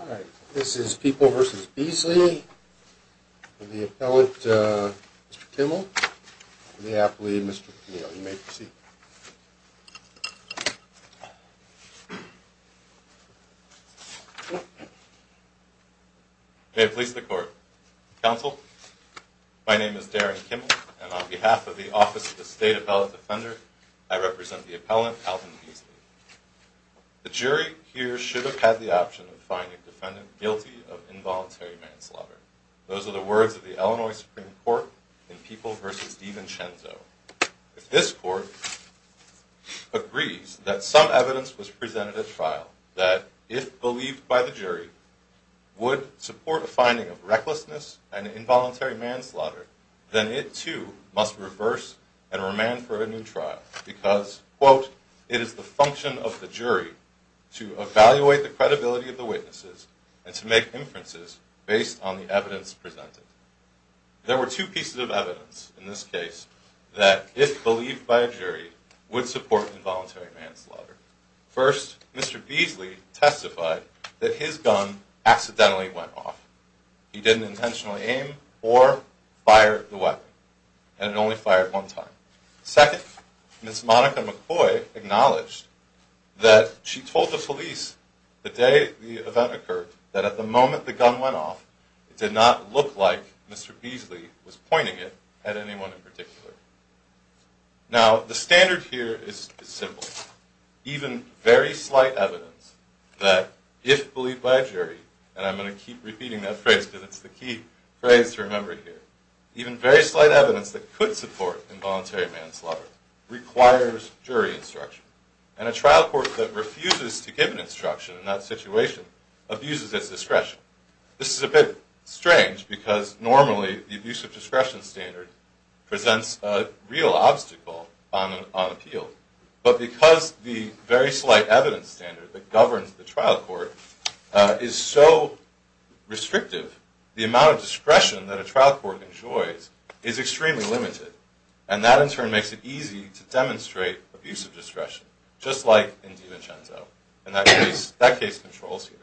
All right, this is People v. Beasley and the appellate, Mr. Kimmel, and the appellee, Mr. O'Neill. You may proceed. May it please the Court. Counsel, my name is Darren Kimmel, and on behalf of the Office of the State Appellate Defender, I represent the appellant, Alvin Beasley. The jury here should have had the option of finding the defendant guilty of involuntary manslaughter. Those are the words of the Illinois Supreme Court in People v. DiVincenzo. If this Court agrees that some evidence was presented at trial that, if believed by the jury, would support a finding of recklessness and involuntary manslaughter, then it, too, must reverse and remand for a new trial because, quote, it is the function of the jury to evaluate the credibility of the witnesses and to make inferences based on the evidence presented. There were two pieces of evidence in this case that, if believed by a jury, would support involuntary manslaughter. First, Mr. Beasley testified that his gun accidentally went off. He didn't intentionally aim or fire the weapon, and it only fired one time. Second, Ms. Monica McCoy acknowledged that she told the police the day the event occurred that, at the moment the gun went off, it did not look like Mr. Beasley was pointing it at anyone in particular. Now, the standard here is simple. Even very slight evidence that, if believed by a jury, and I'm going to keep repeating that phrase because it's the key phrase to remember here, even very slight evidence that could support involuntary manslaughter requires jury instruction. And a trial court that refuses to give an instruction in that situation abuses its discretion. This is a bit strange because, normally, the abuse of discretion standard presents a real obstacle on appeal. But because the very slight evidence standard that governs the trial court is so restrictive, the amount of discretion that a trial court enjoys is extremely limited. And that, in turn, makes it easy to demonstrate abuse of discretion, just like in DiVincenzo. And that case controls here.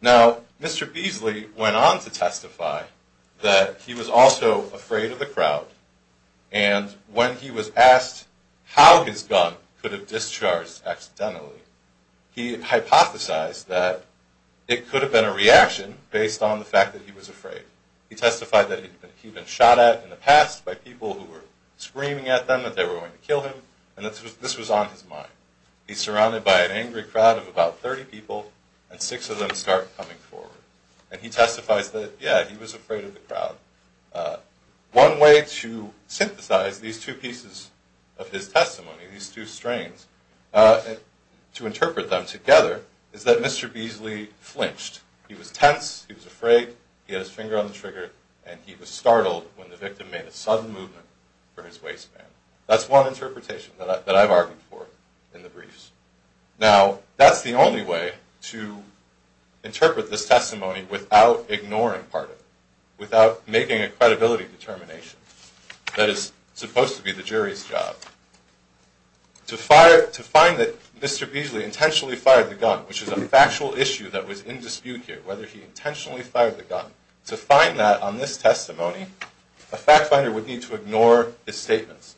Now, Mr. Beasley went on to testify that he was also afraid of the crowd, and when he was asked how his gun could have discharged accidentally, he hypothesized that it could have been a reaction based on the fact that he was afraid. He testified that he'd been shot at in the past by people who were screaming at them that they were going to kill him, and this was on his mind. He's surrounded by an angry crowd of about 30 people, and six of them start coming forward. And he testifies that, yeah, he was afraid of the crowd. One way to synthesize these two pieces of his testimony, these two strains, to interpret them together, is that Mr. Beasley flinched. He was tense, he was afraid, he had his finger on the trigger, and he was startled when the victim made a sudden movement for his waistband. That's one interpretation that I've argued for in the briefs. Now, that's the only way to interpret this testimony without ignoring part of it, without making a credibility determination. That is supposed to be the jury's job. To find that Mr. Beasley intentionally fired the gun, which is a factual issue that was in dispute here, whether he intentionally fired the gun, to find that on this testimony, a fact finder would need to ignore his statements.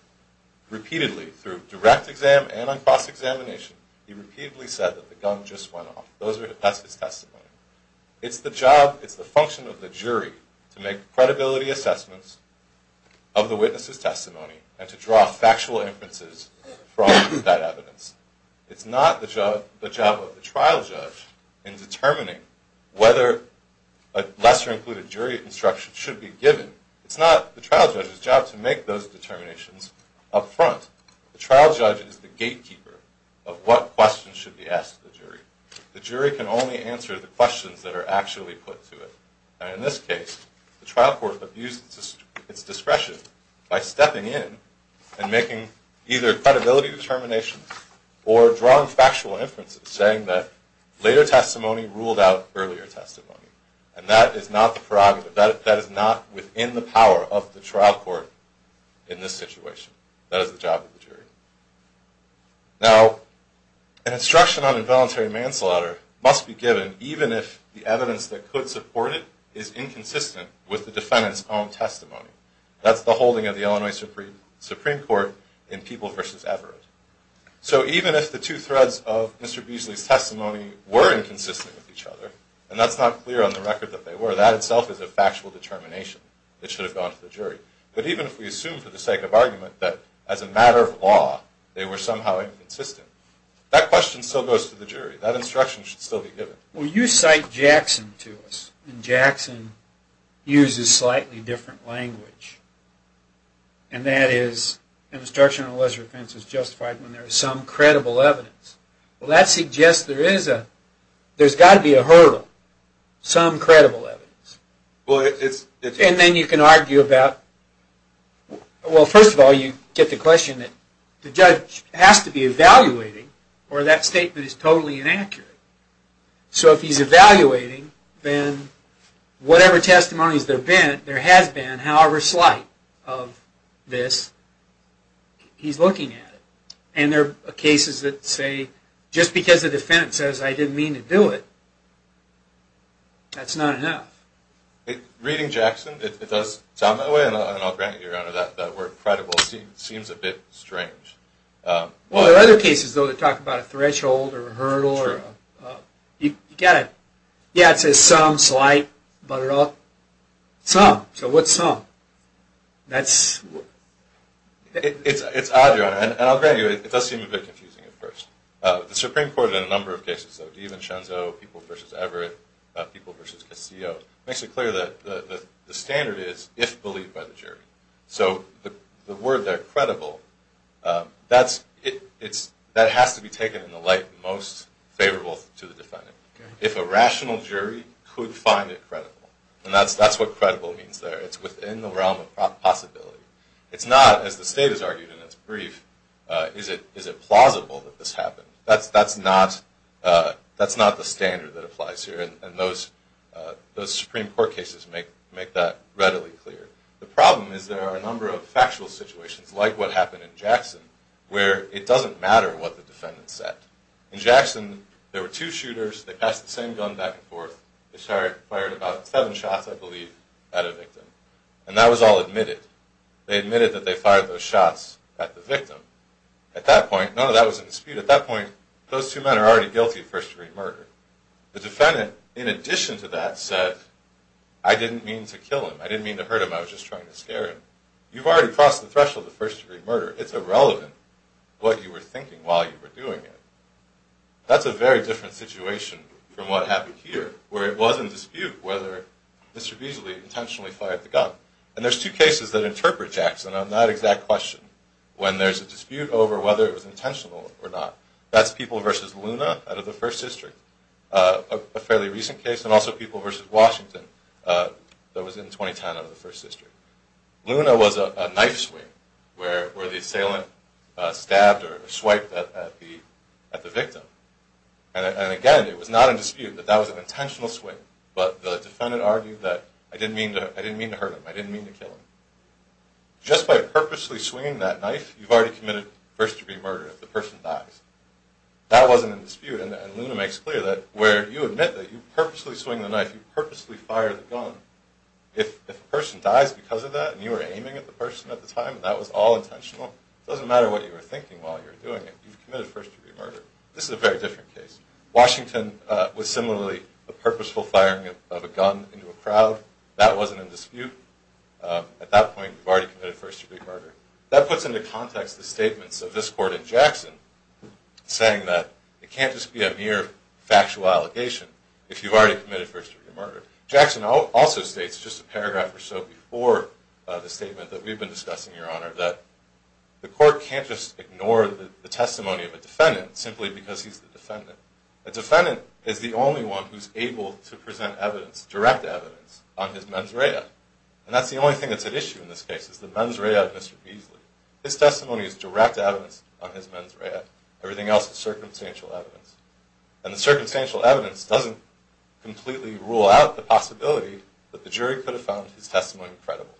Repeatedly, through direct exam and on cross-examination, he repeatedly said that the gun just went off. That's his testimony. It's the job, it's the function of the jury to make credibility assessments of the witness's testimony and to draw factual inferences from that evidence. It's not the job of the trial judge in determining whether a lesser-included jury instruction should be given. It's not the trial judge's job to make those determinations up front. The trial judge is the gatekeeper of what questions should be asked of the jury. The jury can only answer the questions that are actually put to it. And in this case, the trial court abused its discretion by stepping in and making either credibility determinations or drawing factual inferences, saying that later testimony ruled out earlier testimony. And that is not the prerogative. That is not within the power of the trial court in this situation. That is the job of the jury. Now, an instruction on involuntary manslaughter must be given even if the evidence that could support it is inconsistent with the defendant's own testimony. That's the holding of the Illinois Supreme Court in People v. Everett. So even if the two threads of Mr. Beasley's testimony were inconsistent with each other, and that's not clear on the record that they were, that itself is a factual determination that should have gone to the jury. But even if we assume for the sake of argument that as a matter of law they were somehow inconsistent, that question still goes to the jury. That instruction should still be given. Well, you cite Jackson to us. And Jackson uses slightly different language. And that is an instruction on lesser offense is justified when there is some credible evidence. Well, that suggests there is a, there's got to be a hurdle, some credible evidence. And then you can argue about, well, first of all, you get the question that the judge has to be evaluating, or that statement is totally inaccurate. So if he's evaluating, then whatever testimonies there have been, there has been, however slight of this, he's looking at it. And there are cases that say just because the defense says I didn't mean to do it, that's not enough. Reading Jackson, it does sound that way. And I'll grant you, Your Honor, that word credible seems a bit strange. Well, there are other cases, though, that talk about a threshold or a hurdle. True. You've got to, yeah, it says some, slight, but at all, some. So what's some? That's... It's odd, Your Honor, and I'll grant you, it does seem a bit confusing at first. The Supreme Court in a number of cases, though, Diev and Schenzo, People v. Everett, People v. Cascio, makes it clear that the standard is if believed by the jury. So the word there, credible, that's, it's, that has to be taken in the light most favorable to the defendant. If a rational jury could find it credible, and that's what credible means there, it's within the realm of possibility. It's not, as the State has argued in its brief, is it plausible that this happened. That's not the standard that applies here, and those Supreme Court cases make that readily clear. The problem is there are a number of factual situations, like what happened in Jackson, where it doesn't matter what the defendant said. In Jackson, there were two shooters, they passed the same gun back and forth, they fired about seven shots, I believe, at a victim. And that was all admitted. They admitted that they fired those shots at the victim. At that point, no, no, that was in dispute. At that point, those two men are already guilty of first-degree murder. The defendant, in addition to that, said, I didn't mean to kill him, I didn't mean to hurt him, I was just trying to scare him. You've already crossed the threshold of first-degree murder. It's irrelevant what you were thinking while you were doing it. That's a very different situation from what happened here, where it was in dispute whether Mr. Beasley intentionally fired the gun. And there's two cases that interpret Jackson on that exact question, when there's a dispute over whether it was intentional or not. That's People v. Luna out of the First District, a fairly recent case, and also People v. Washington that was in 2010 out of the First District. Luna was a knife swing where the assailant stabbed or swiped at the victim. And again, it was not in dispute that that was an intentional swing, but the defendant argued that, I didn't mean to hurt him, I didn't mean to kill him. Just by purposely swinging that knife, you've already committed first-degree murder if the person dies. That wasn't in dispute, and Luna makes clear that, where you admit that you purposely swing the knife, you purposely fire the gun, if a person dies because of that, and you were aiming at the person at the time, that was all intentional, it doesn't matter what you were thinking while you were doing it, you've committed first-degree murder. This is a very different case. Washington was similarly a purposeful firing of a gun into a crowd. That wasn't in dispute. At that point, you've already committed first-degree murder. That puts into context the statements of this Court in Jackson, saying that it can't just be a mere factual allegation if you've already committed first-degree murder. Jackson also states, just a paragraph or so before the statement that we've been discussing, Your Honor, that the Court can't just ignore the testimony of a defendant simply because he's the defendant. A defendant is the only one who's able to present evidence, direct evidence, on his mens rea. And that's the only thing that's at issue in this case, is the mens rea of Mr. Beasley. His testimony is direct evidence on his mens rea. Everything else is circumstantial evidence. And the circumstantial evidence doesn't completely rule out the possibility that the jury could have found his testimony credible.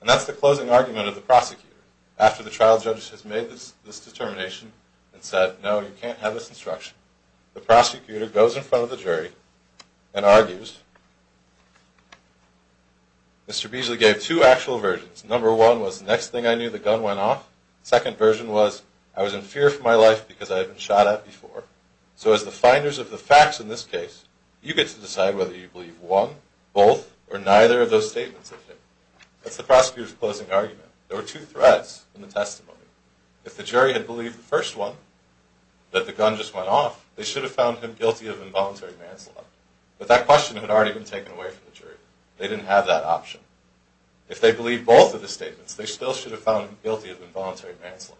And that's the closing argument of the prosecutor. After the trial judge has made this determination and said, No, you can't have this instruction, the prosecutor goes in front of the jury and argues, Mr. Beasley gave two actual versions. Number one was, the next thing I knew, the gun went off. The second version was, I was in fear for my life because I had been shot at before. So as the finders of the facts in this case, you get to decide whether you believe one, both, or neither of those statements of him. That's the prosecutor's closing argument. There were two threads in the testimony. If the jury had believed the first one, that the gun just went off, they should have found him guilty of involuntary manslaughter. But that question had already been taken away from the jury. They didn't have that option. If they believed both of the statements, they still should have found him guilty of involuntary manslaughter.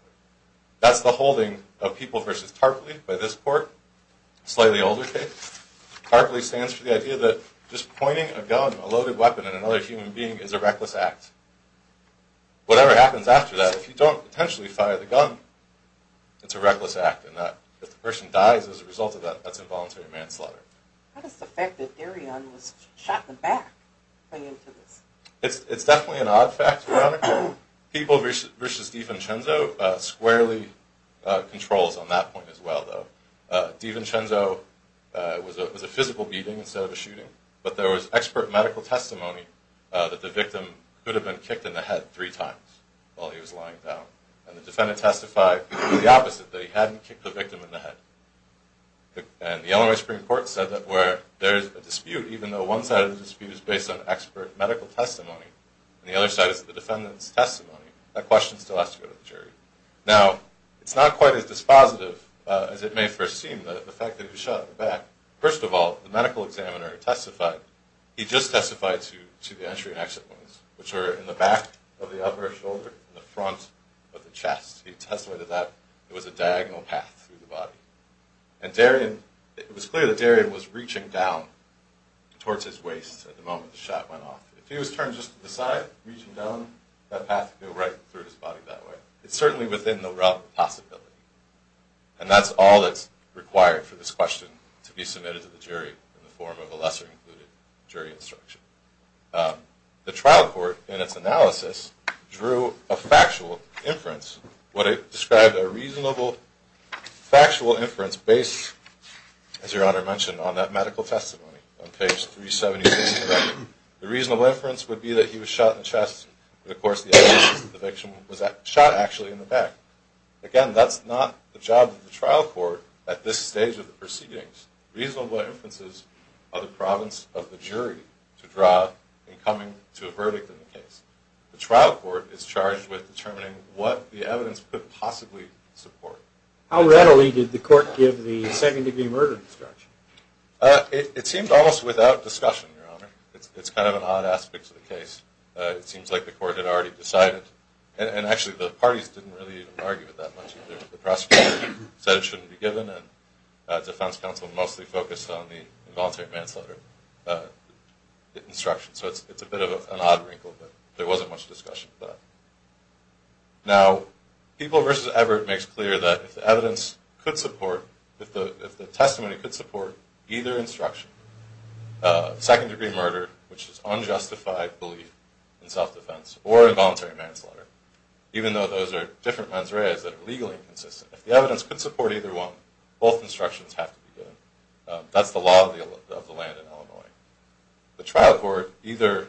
That's the holding of People v. Tarpley by this court. Slightly older case. Tarpley stands for the idea that just pointing a gun, a loaded weapon, at another human being is a reckless act. Whatever happens after that, if you don't potentially fire the gun, it's a reckless act. If the person dies as a result of that, that's involuntary manslaughter. How does the fact that Darion was shot in the back play into this? It's definitely an odd fact, Your Honor. People v. DiVincenzo squarely controls on that point as well, though. DiVincenzo was a physical beating instead of a shooting, but there was expert medical testimony that the victim could have been kicked in the head three times while he was lying down. And the defendant testified the opposite, that he hadn't kicked the victim in the head. And the Illinois Supreme Court said that where there is a dispute, even though one side of the dispute is based on expert medical testimony, and the other side is the defendant's testimony, that question still has to go to the jury. Now, it's not quite as dispositive as it may first seem, the fact that he was shot in the back. First of all, the medical examiner testified, he just testified to the entry and exit points, which are in the back of the upper shoulder and the front of the chest. He testified that there was a diagonal path through the body. And it was clear that Darion was reaching down towards his waist at the moment the shot went off. If he was turned just to the side, reaching down, that path would go right through his body that way. But it's certainly within the realm of possibility. And that's all that's required for this question to be submitted to the jury in the form of a lesser included jury instruction. The trial court, in its analysis, drew a factual inference. What it described a reasonable factual inference based, as Your Honor mentioned, on that medical testimony on page 376 of the record. The reasonable inference would be that he was shot in the chest. And, of course, the evidence of his eviction was shot actually in the back. Again, that's not the job of the trial court at this stage of the proceedings. Reasonable inferences are the province of the jury to draw in coming to a verdict in the case. The trial court is charged with determining what the evidence could possibly support. How readily did the court give the second-degree murder instruction? It seemed almost without discussion, Your Honor. It's kind of an odd aspect of the case. It seems like the court had already decided. And actually, the parties didn't really argue with that much. The prosecutor said it shouldn't be given. And defense counsel mostly focused on the involuntary manslaughter instruction. So it's a bit of an odd wrinkle. But there wasn't much discussion of that. Now, People v. Everett makes clear that if the evidence could support, if the testimony could support either instruction, second-degree murder, which is unjustified belief in self-defense, or involuntary manslaughter, even though those are different mens reas that are legally consistent, if the evidence could support either one, both instructions have to be given. That's the law of the land in Illinois. The trial court either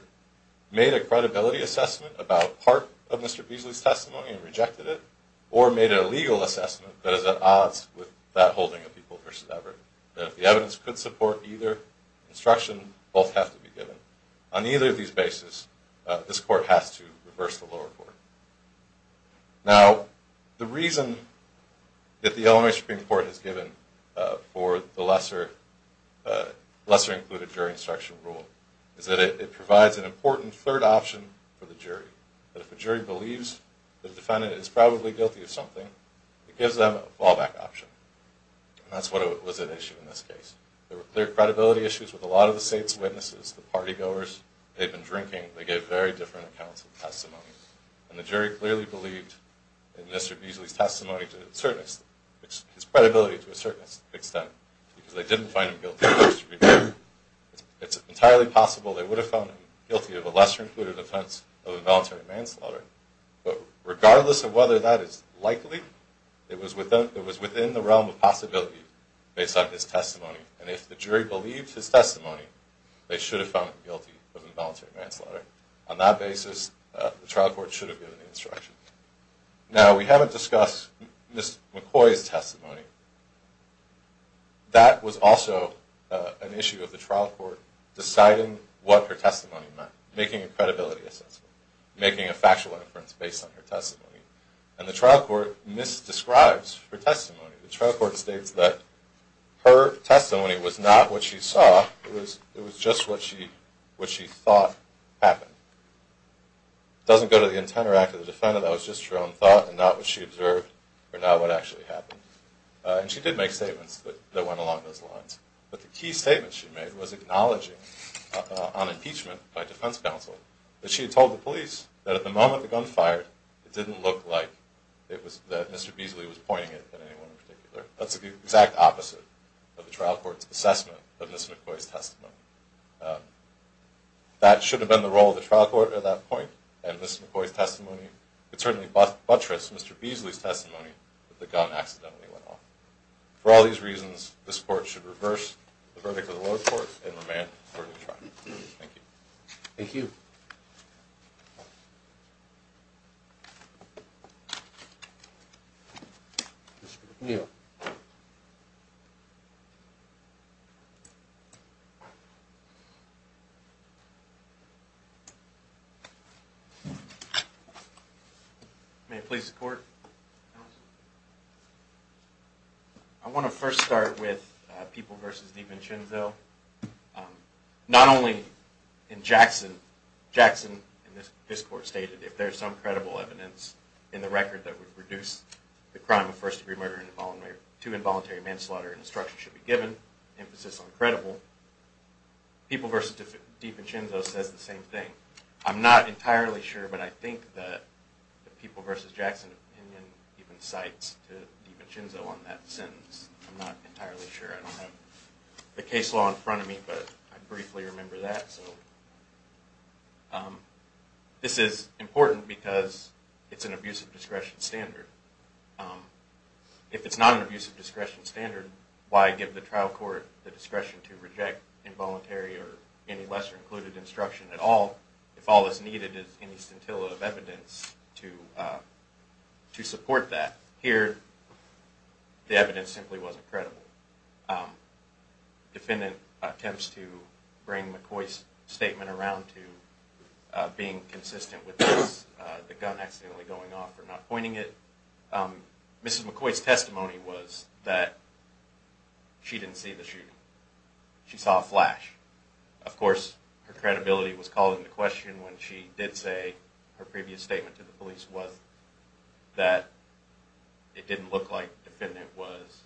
made a credibility assessment about part of Mr. Beasley's testimony and rejected it, or made a legal assessment that is at odds with that holding of People v. Everett, that if the evidence could support either instruction, both have to be given. On either of these bases, this court has to reverse the lower court. For the lesser included jury instruction rule, is that it provides an important third option for the jury. That if a jury believes the defendant is probably guilty of something, it gives them a fallback option. And that's what was at issue in this case. There were clear credibility issues with a lot of the state's witnesses, the party-goers, they'd been drinking, they gave very different accounts of testimony. And the jury clearly believed in Mr. Beasley's testimony to a certain extent, his credibility to a certain extent, because they didn't find him guilty of first degree murder. It's entirely possible they would have found him guilty of a lesser included offense of involuntary manslaughter. But regardless of whether that is likely, it was within the realm of possibility based on his testimony. And if the jury believed his testimony, they should have found him guilty of involuntary manslaughter. On that basis, the trial court should have given the instruction. Now, we haven't discussed Ms. McCoy's testimony. That was also an issue of the trial court deciding what her testimony meant, making a credibility assessment, making a factual inference based on her testimony. And the trial court misdescribes her testimony. The trial court states that her testimony was not what she saw, it was just what she thought happened. It doesn't go to the intent or act of the defendant, that was just her own thought and not what she observed or not what actually happened. And she did make statements that went along those lines. But the key statement she made was acknowledging on impeachment by defense counsel that she had told the police that at the moment the gun fired, it didn't look like Mr. Beasley was pointing it at anyone in particular. That's the exact opposite of the trial court's assessment of Ms. McCoy's testimony. That should have been the role of the trial court at that point, and Ms. McCoy's testimony could certainly buttress Mr. Beasley's testimony that the gun accidentally went off. For all these reasons, this court should reverse the verdict of the lower court and remain for a new trial. Thank you. Thank you. Mr. McNeil. Thank you. May it please the court. Counsel. I want to first start with People v. Devin Chinzell. Not only in Jackson, Jackson in this court stated, if there's some credible evidence in the record that would reduce the crime of first-degree murder to involuntary manslaughter, an instruction should be given, emphasis on credible. People v. Devin Chinzell says the same thing. I'm not entirely sure, but I think that People v. Jackson even cites Devin Chinzell on that sentence. I'm not entirely sure. I don't have the case law in front of me, but I briefly remember that. This is important because it's an abusive discretion standard. If it's not an abusive discretion standard, why give the trial court the discretion to reject involuntary or any lesser-included instruction at all, if all that's needed is any scintilla of evidence to support that? Here, the evidence simply wasn't credible. Defendant attempts to bring McCoy's statement around to being consistent with the gun accidentally going off or not pointing it. Mrs. McCoy's testimony was that she didn't see the shooting. She saw a flash. Of course, her credibility was called into question when she did say her previous statement to the police was that it didn't look like the defendant was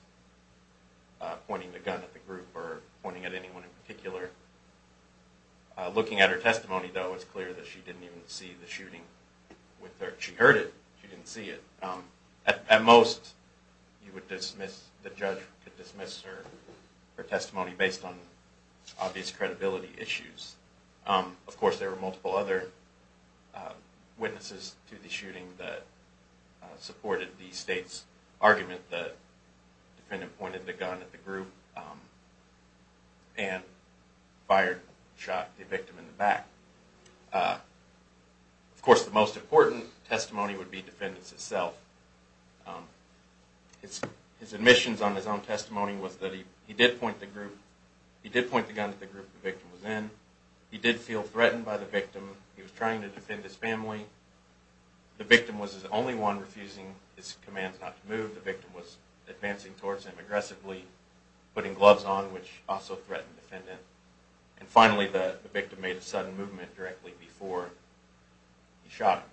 pointing the gun at the group or pointing at anyone in particular. Looking at her testimony, though, it's clear that she didn't even see the shooting. She heard it. She didn't see it. At most, the judge would dismiss her testimony based on obvious credibility issues. Of course, there were multiple other witnesses to the shooting that supported the state's argument that the defendant pointed the gun at the group. And fired, shot the victim in the back. Of course, the most important testimony would be the defendant's itself. His admissions on his own testimony was that he did point the gun at the group the victim was in. He did feel threatened by the victim. He was trying to defend his family. The victim was the only one refusing his commands not to move. The victim was advancing towards him aggressively, putting gloves on, which also threatened the defendant. And finally, the victim made a sudden movement directly before he shot him.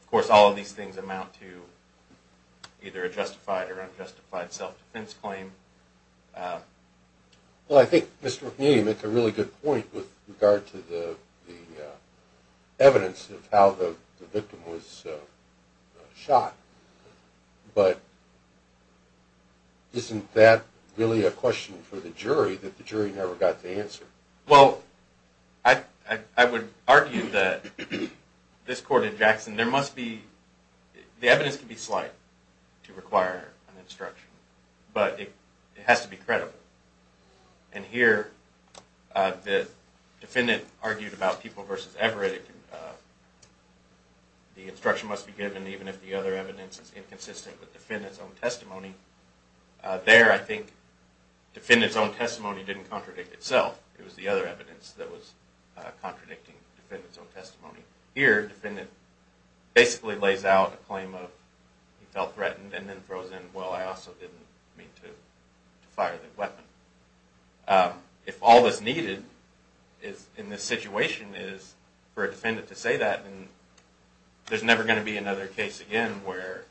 Of course, all of these things amount to either a justified or unjustified self-defense claim. Well, I think Mr. Rahim makes a really good point with regard to the evidence of how the victim was shot. But isn't that really a question for the jury that the jury never got to answer? Well, I would argue that this court in Jackson, there must be... The evidence can be slight to require an instruction. But it has to be credible. And here, the defendant argued about people versus Everett. The instruction must be given even if the other evidence is inconsistent with the defendant's own testimony. There, I think, the defendant's own testimony didn't contradict itself. It was the other evidence that was contradicting the defendant's own testimony. Here, the defendant basically lays out a claim of he felt threatened and then throws in, well, I also didn't mean to fire the weapon. If all that's needed in this situation is for a defendant to say that, then there's never going to be another case again where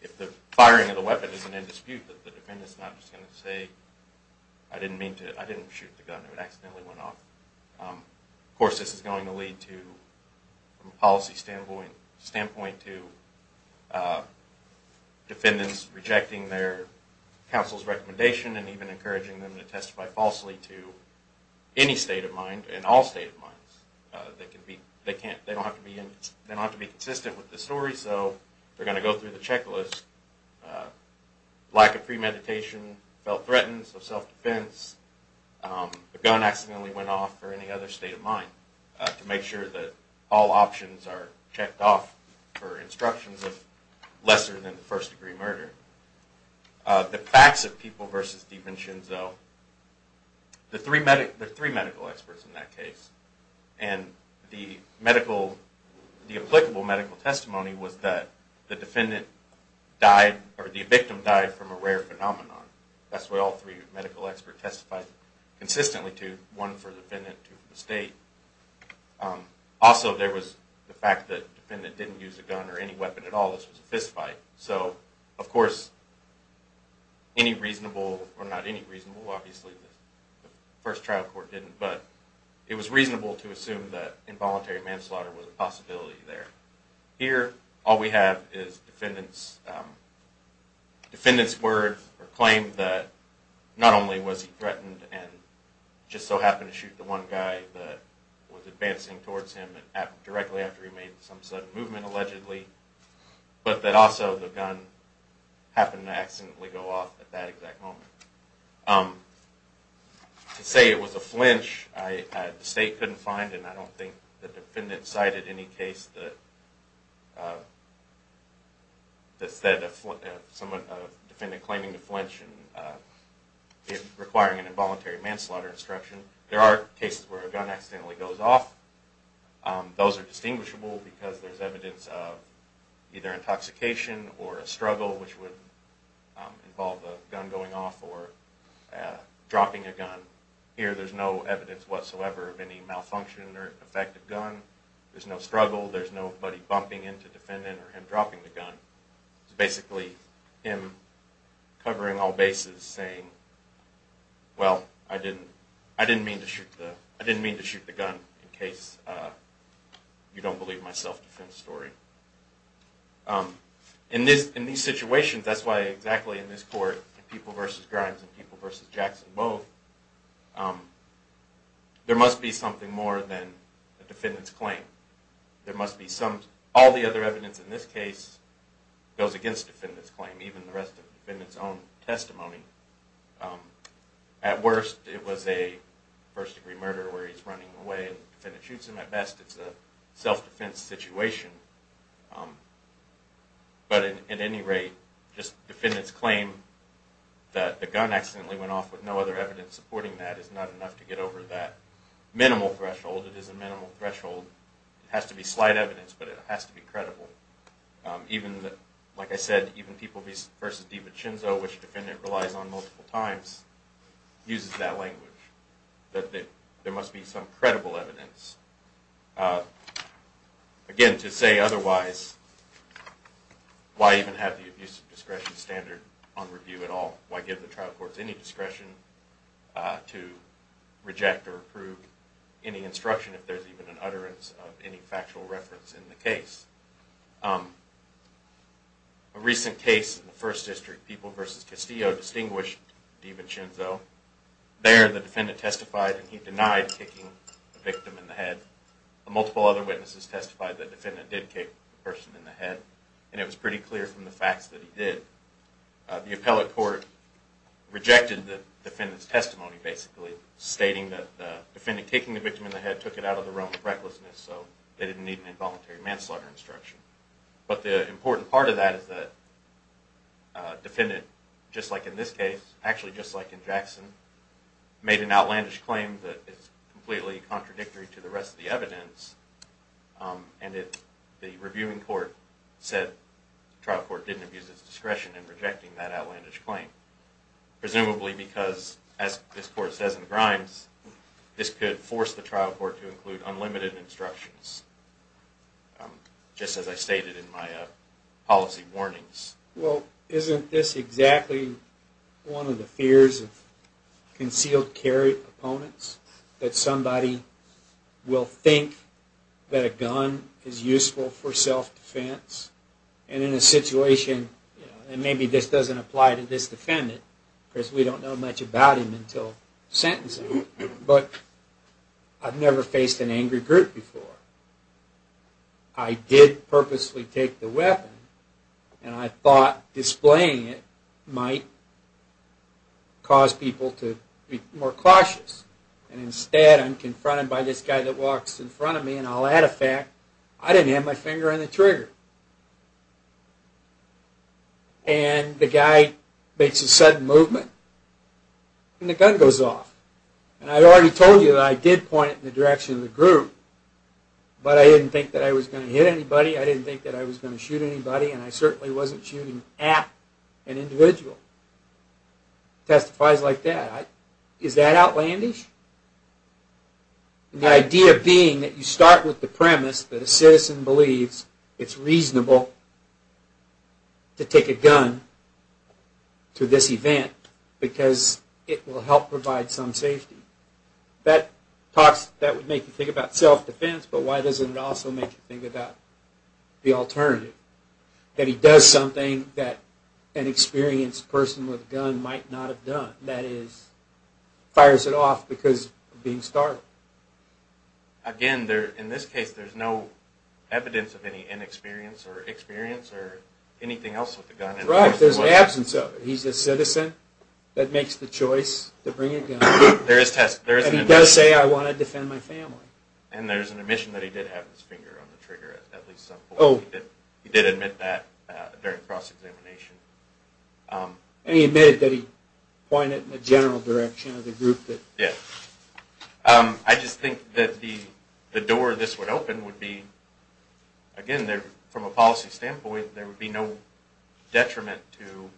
if the firing of the weapon isn't in dispute, that the defendant's not just going to say, I didn't mean to, I didn't shoot the gun, it accidentally went off. Of course, this is going to lead to, from a policy standpoint, to defendants rejecting their counsel's recommendation and even encouraging them to testify falsely to any state of mind and all state of minds. They don't have to be consistent with the story, so they're going to go through the checklist, lack of premeditation, felt threatened, so self-defense, the gun accidentally went off, or any other state of mind, to make sure that all options are checked off for instructions of lesser than the first degree murder. The facts of People v. Steven Shinzo, there are three medical experts in that case, and the applicable medical testimony was that the victim died from a rare phenomenon. That's what all three medical experts testified consistently to, one for the defendant, two for the state. Also, there was the fact that the defendant didn't use a gun or any weapon at all. This was a fist fight. So, of course, any reasonable, or not any reasonable, obviously the first trial court didn't, but it was reasonable to assume that involuntary manslaughter was a possibility there. Here, all we have is defendants' word or claim that not only was he threatened and just so happened to shoot the one guy that was advancing towards him directly after he made some sudden movement, allegedly, but that also the gun happened to accidentally go off at that exact moment. To say it was a flinch, the state couldn't find, and I don't think the defendant cited any case that said a defendant claiming to flinch and requiring an involuntary manslaughter instruction. There are cases where a gun accidentally goes off. Those are distinguishable because there's evidence of either intoxication or a struggle, which would involve a gun going off or dropping a gun. Here, there's no evidence whatsoever of any malfunction or effect of gun. There's no struggle. There's nobody bumping into defendant or him dropping the gun. It's basically him covering all bases saying, well, I didn't mean to shoot the gun in case you don't believe my self-defense story. In these situations, that's why exactly in this court, in People v. Grimes and People v. Jackson both, there must be something more than the defendant's claim. All the other evidence in this case goes against the defendant's claim, even the rest of the defendant's own testimony. At worst, it was a first-degree murder where he's running away and the defendant shoots him at best. It's a self-defense situation, but at any rate, just the defendant's claim that the gun accidentally went off with no other evidence supporting that is not enough to get over that minimal threshold. It is a minimal threshold. It has to be slight evidence, but it has to be credible. Like I said, even People v. DiVincenzo, which the defendant relies on multiple times, uses that language, that there must be some credible evidence. Again, to say otherwise, why even have the abuse of discretion standard on review at all? Why give the trial courts any discretion to reject or approve any instruction if there's even an utterance of any factual reference in the case? A recent case in the First District, People v. Castillo, distinguished DiVincenzo. There, the defendant testified and he denied kicking the victim in the head. Multiple other witnesses testified that the defendant did kick the person in the head, and it was pretty clear from the facts that he did. The appellate court rejected the defendant's testimony, basically, stating that the defendant kicking the victim in the head took it out of the realm of recklessness, so they didn't need an involuntary manslaughter instruction. But the important part of that is that the defendant, just like in this case, actually just like in Jackson, made an outlandish claim that is completely contradictory to the rest of the evidence, and the reviewing court said the trial court didn't abuse its discretion in rejecting that outlandish claim, presumably because, as this court says in Grimes, this could force the trial court to include unlimited instructions, just as I stated in my policy warnings. Well, isn't this exactly one of the fears of concealed carry opponents, that somebody will think that a gun is useful for self-defense, and in a situation, and maybe this doesn't apply to this defendant, because we don't know much about him until sentencing, but I've never faced an angry group before. I did purposely take the weapon, and I thought displaying it might cause people to be more cautious, and instead I'm confronted by this guy that walks in front of me, and I'll add a fact, I didn't have my finger on the trigger. And the guy makes a sudden movement, and the gun goes off. And I already told you that I did point it in the direction of the group, but I didn't think that I was going to hit anybody, I didn't think that I was going to shoot anybody, and I certainly wasn't shooting at an individual. Testifies like that. Is that outlandish? The idea being that you start with the premise that a citizen believes it's reasonable to take a gun to this event, because it will help provide some safety. That would make you think about self-defense, but why doesn't it also make you think about the alternative? That he does something that an experienced person with a gun might not have done. That is, fires it off because of being startled. Again, in this case, there's no evidence of any inexperience or experience or anything else with the gun. Right, there's an absence of it. He's a citizen that makes the choice to bring a gun. And he does say, I want to defend my family. And there's an admission that he did have his finger on the trigger at least some point. He did admit that during cross-examination. And he admitted that he pointed it in the general direction of the group. I just think that the door this would open would be, again, from a policy standpoint, there would be no detriment to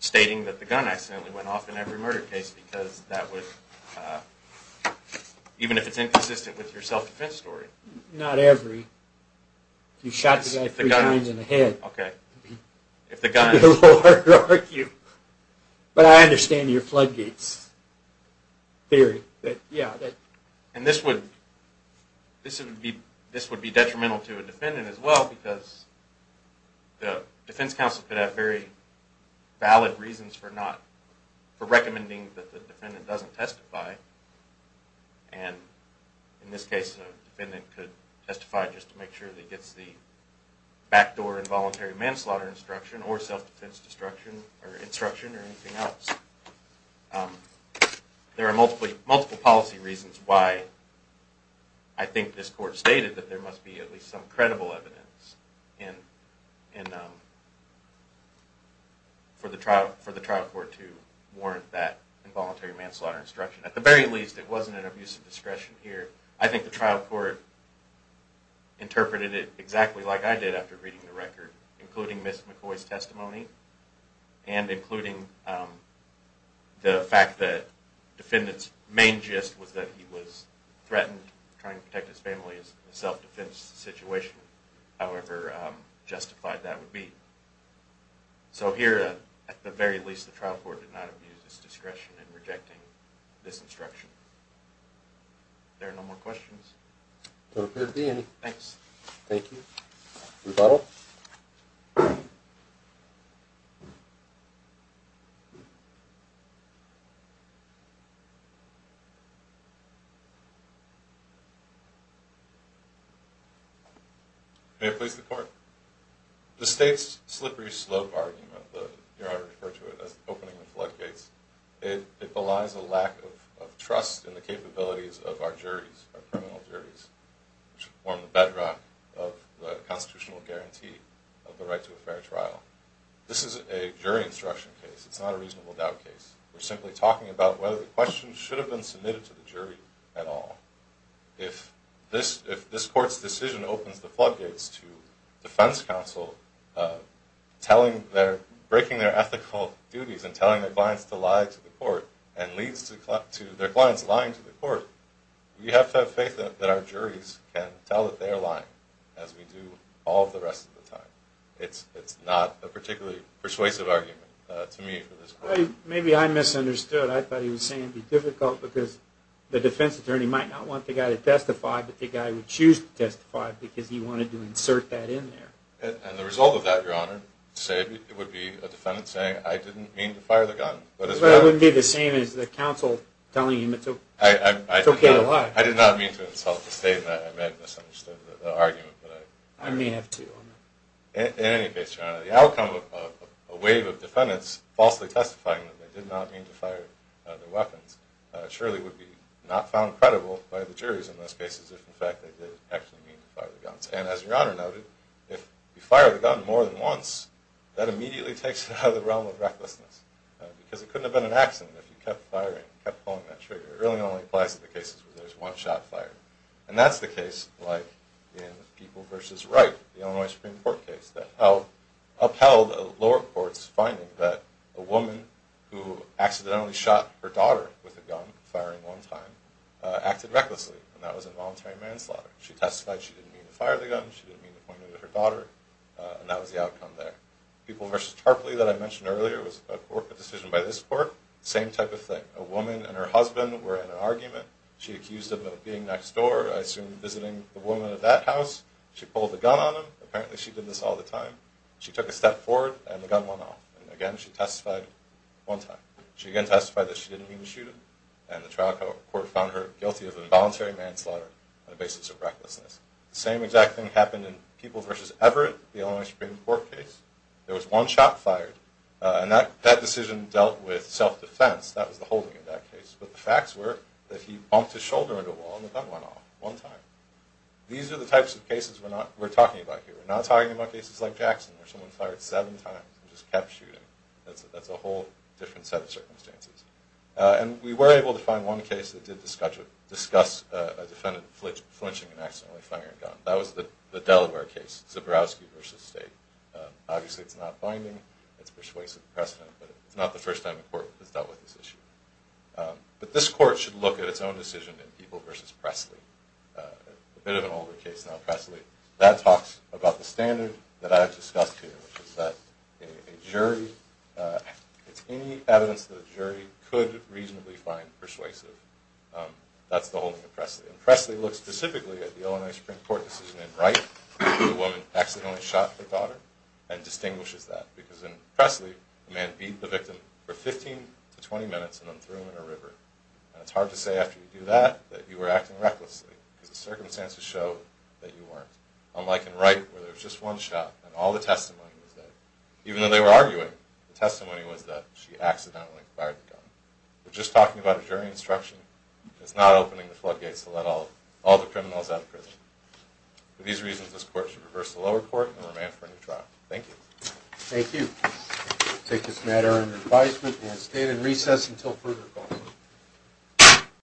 stating that the gun accidentally went off in every murder case, because that would, even if it's inconsistent with your self-defense story. Not every. You shot the guy three times in the head. Okay. It would be a little harder to argue. But I understand your floodgates theory. And this would be detrimental to a defendant as well, because the defense counsel could have very valid reasons for recommending that the defendant doesn't testify. And in this case, a defendant could testify just to make sure that he gets the backdoor involuntary manslaughter instruction or self-defense instruction or anything else. There are multiple policy reasons why I think this court stated that there must be at least some credible evidence for the trial court to warrant that involuntary manslaughter instruction. At the very least, it wasn't an abuse of discretion here. I think the trial court interpreted it exactly like I did after reading the fact that the defendant's main gist was that he was threatened trying to protect his family in a self-defense situation, however justified that would be. So here, at the very least, the trial court did not abuse his discretion in rejecting this instruction. Are there no more questions? Thanks. Thank you. Rebuttal? May it please the Court. The State's slippery slope argument, here I refer to it as the opening the floodgates, it belies a lack of trust in the capabilities of our juries, our criminal juries, which form the bedrock of the constitutional guarantee of the right to a fair trial. This is a jury instruction case. It's not a reasonable doubt case. We're simply talking about whether the question should have been submitted to the jury at all. If this court's decision opens the floodgates to defense counsel breaking their ethical duties and telling their clients to lie to the court and leads to their clients lying to the court, we have to have faith that our juries can tell that they are lying, as we do all of the rest of the time. It's not a particularly persuasive argument to me for this court. Maybe I misunderstood. I thought he was saying it would be difficult because the defense attorney might not want the guy to testify, but the guy would choose to testify because he wanted to insert that in there. And the result of that, Your Honor, would be a defendant saying, I didn't mean to fire the gun. But it wouldn't be the same as the counsel telling him to get a lie. I did not mean to insult the State in that I may have misunderstood the argument. I may have too. In any case, Your Honor, the outcome of a wave of defendants falsely testifying that they did not mean to fire their weapons surely would be not found credible by the juries in those cases if in fact they did actually mean to fire the guns. And as Your Honor noted, if you fire the gun more than once, that immediately takes it out of the realm of recklessness because it couldn't have been an accident if you kept firing, kept pulling that trigger. It really only applies to the cases where there's one shot fired. And that's the case like in People v. Wright, the Illinois Supreme Court case, that upheld a lower court's finding that a woman who accidentally shot her daughter with a gun, firing one time, acted recklessly. And that was involuntary manslaughter. She testified she didn't mean to fire the gun, she didn't mean to point it at her daughter, and that was the outcome there. People v. Tarpley that I mentioned earlier was a decision by this court. Same type of thing. A woman and her husband were in an argument. She accused him of being next door, I assume visiting the woman of that house. She pulled the gun on him. Apparently she did this all the time. She took a step forward, and the gun went off. And again, she testified one time. She again testified that she didn't mean to shoot him, and the trial court found her guilty of involuntary manslaughter on the basis of recklessness. The same exact thing happened in People v. Everett, the Illinois Supreme Court case. There was one shot fired, and that decision dealt with self-defense. That was the holding of that case. But the facts were that he bumped his shoulder into a wall, and the gun went off one time. These are the types of cases we're talking about here. We're not talking about cases like Jackson, where someone fired seven times and just kept shooting. That's a whole different set of circumstances. And we were able to find one case that did discuss a defendant flinching and accidentally firing a gun. That was the Delaware case, Zabrowski v. State. Obviously it's not binding, it's persuasive precedent, but it's not the first time a court has dealt with this issue. But this court should look at its own decision in People v. Presley. A bit of an older case now, Presley. That talks about the standard that I've discussed here, which is that any evidence that a jury could reasonably find persuasive, that's the holding of Presley. And Presley looks specifically at the Illinois Supreme Court decision in Wright, where the woman accidentally shot her daughter, and distinguishes that. Because in Presley, the man beat the victim for 15 to 20 minutes and then threw him in a river. And it's hard to say after you do that that you were acting recklessly, because the circumstances show that you weren't. Unlike in Wright, where there was just one shot, and all the testimony was that, even though they were arguing, the testimony was that she accidentally fired the gun. We're just talking about a jury instruction. It's not opening the floodgates to let all the criminals out of prison. For these reasons, this court should reverse the lower court and remain for a new trial. Thank you. Thank you. We'll take this matter under advisement and stand in recess until further call.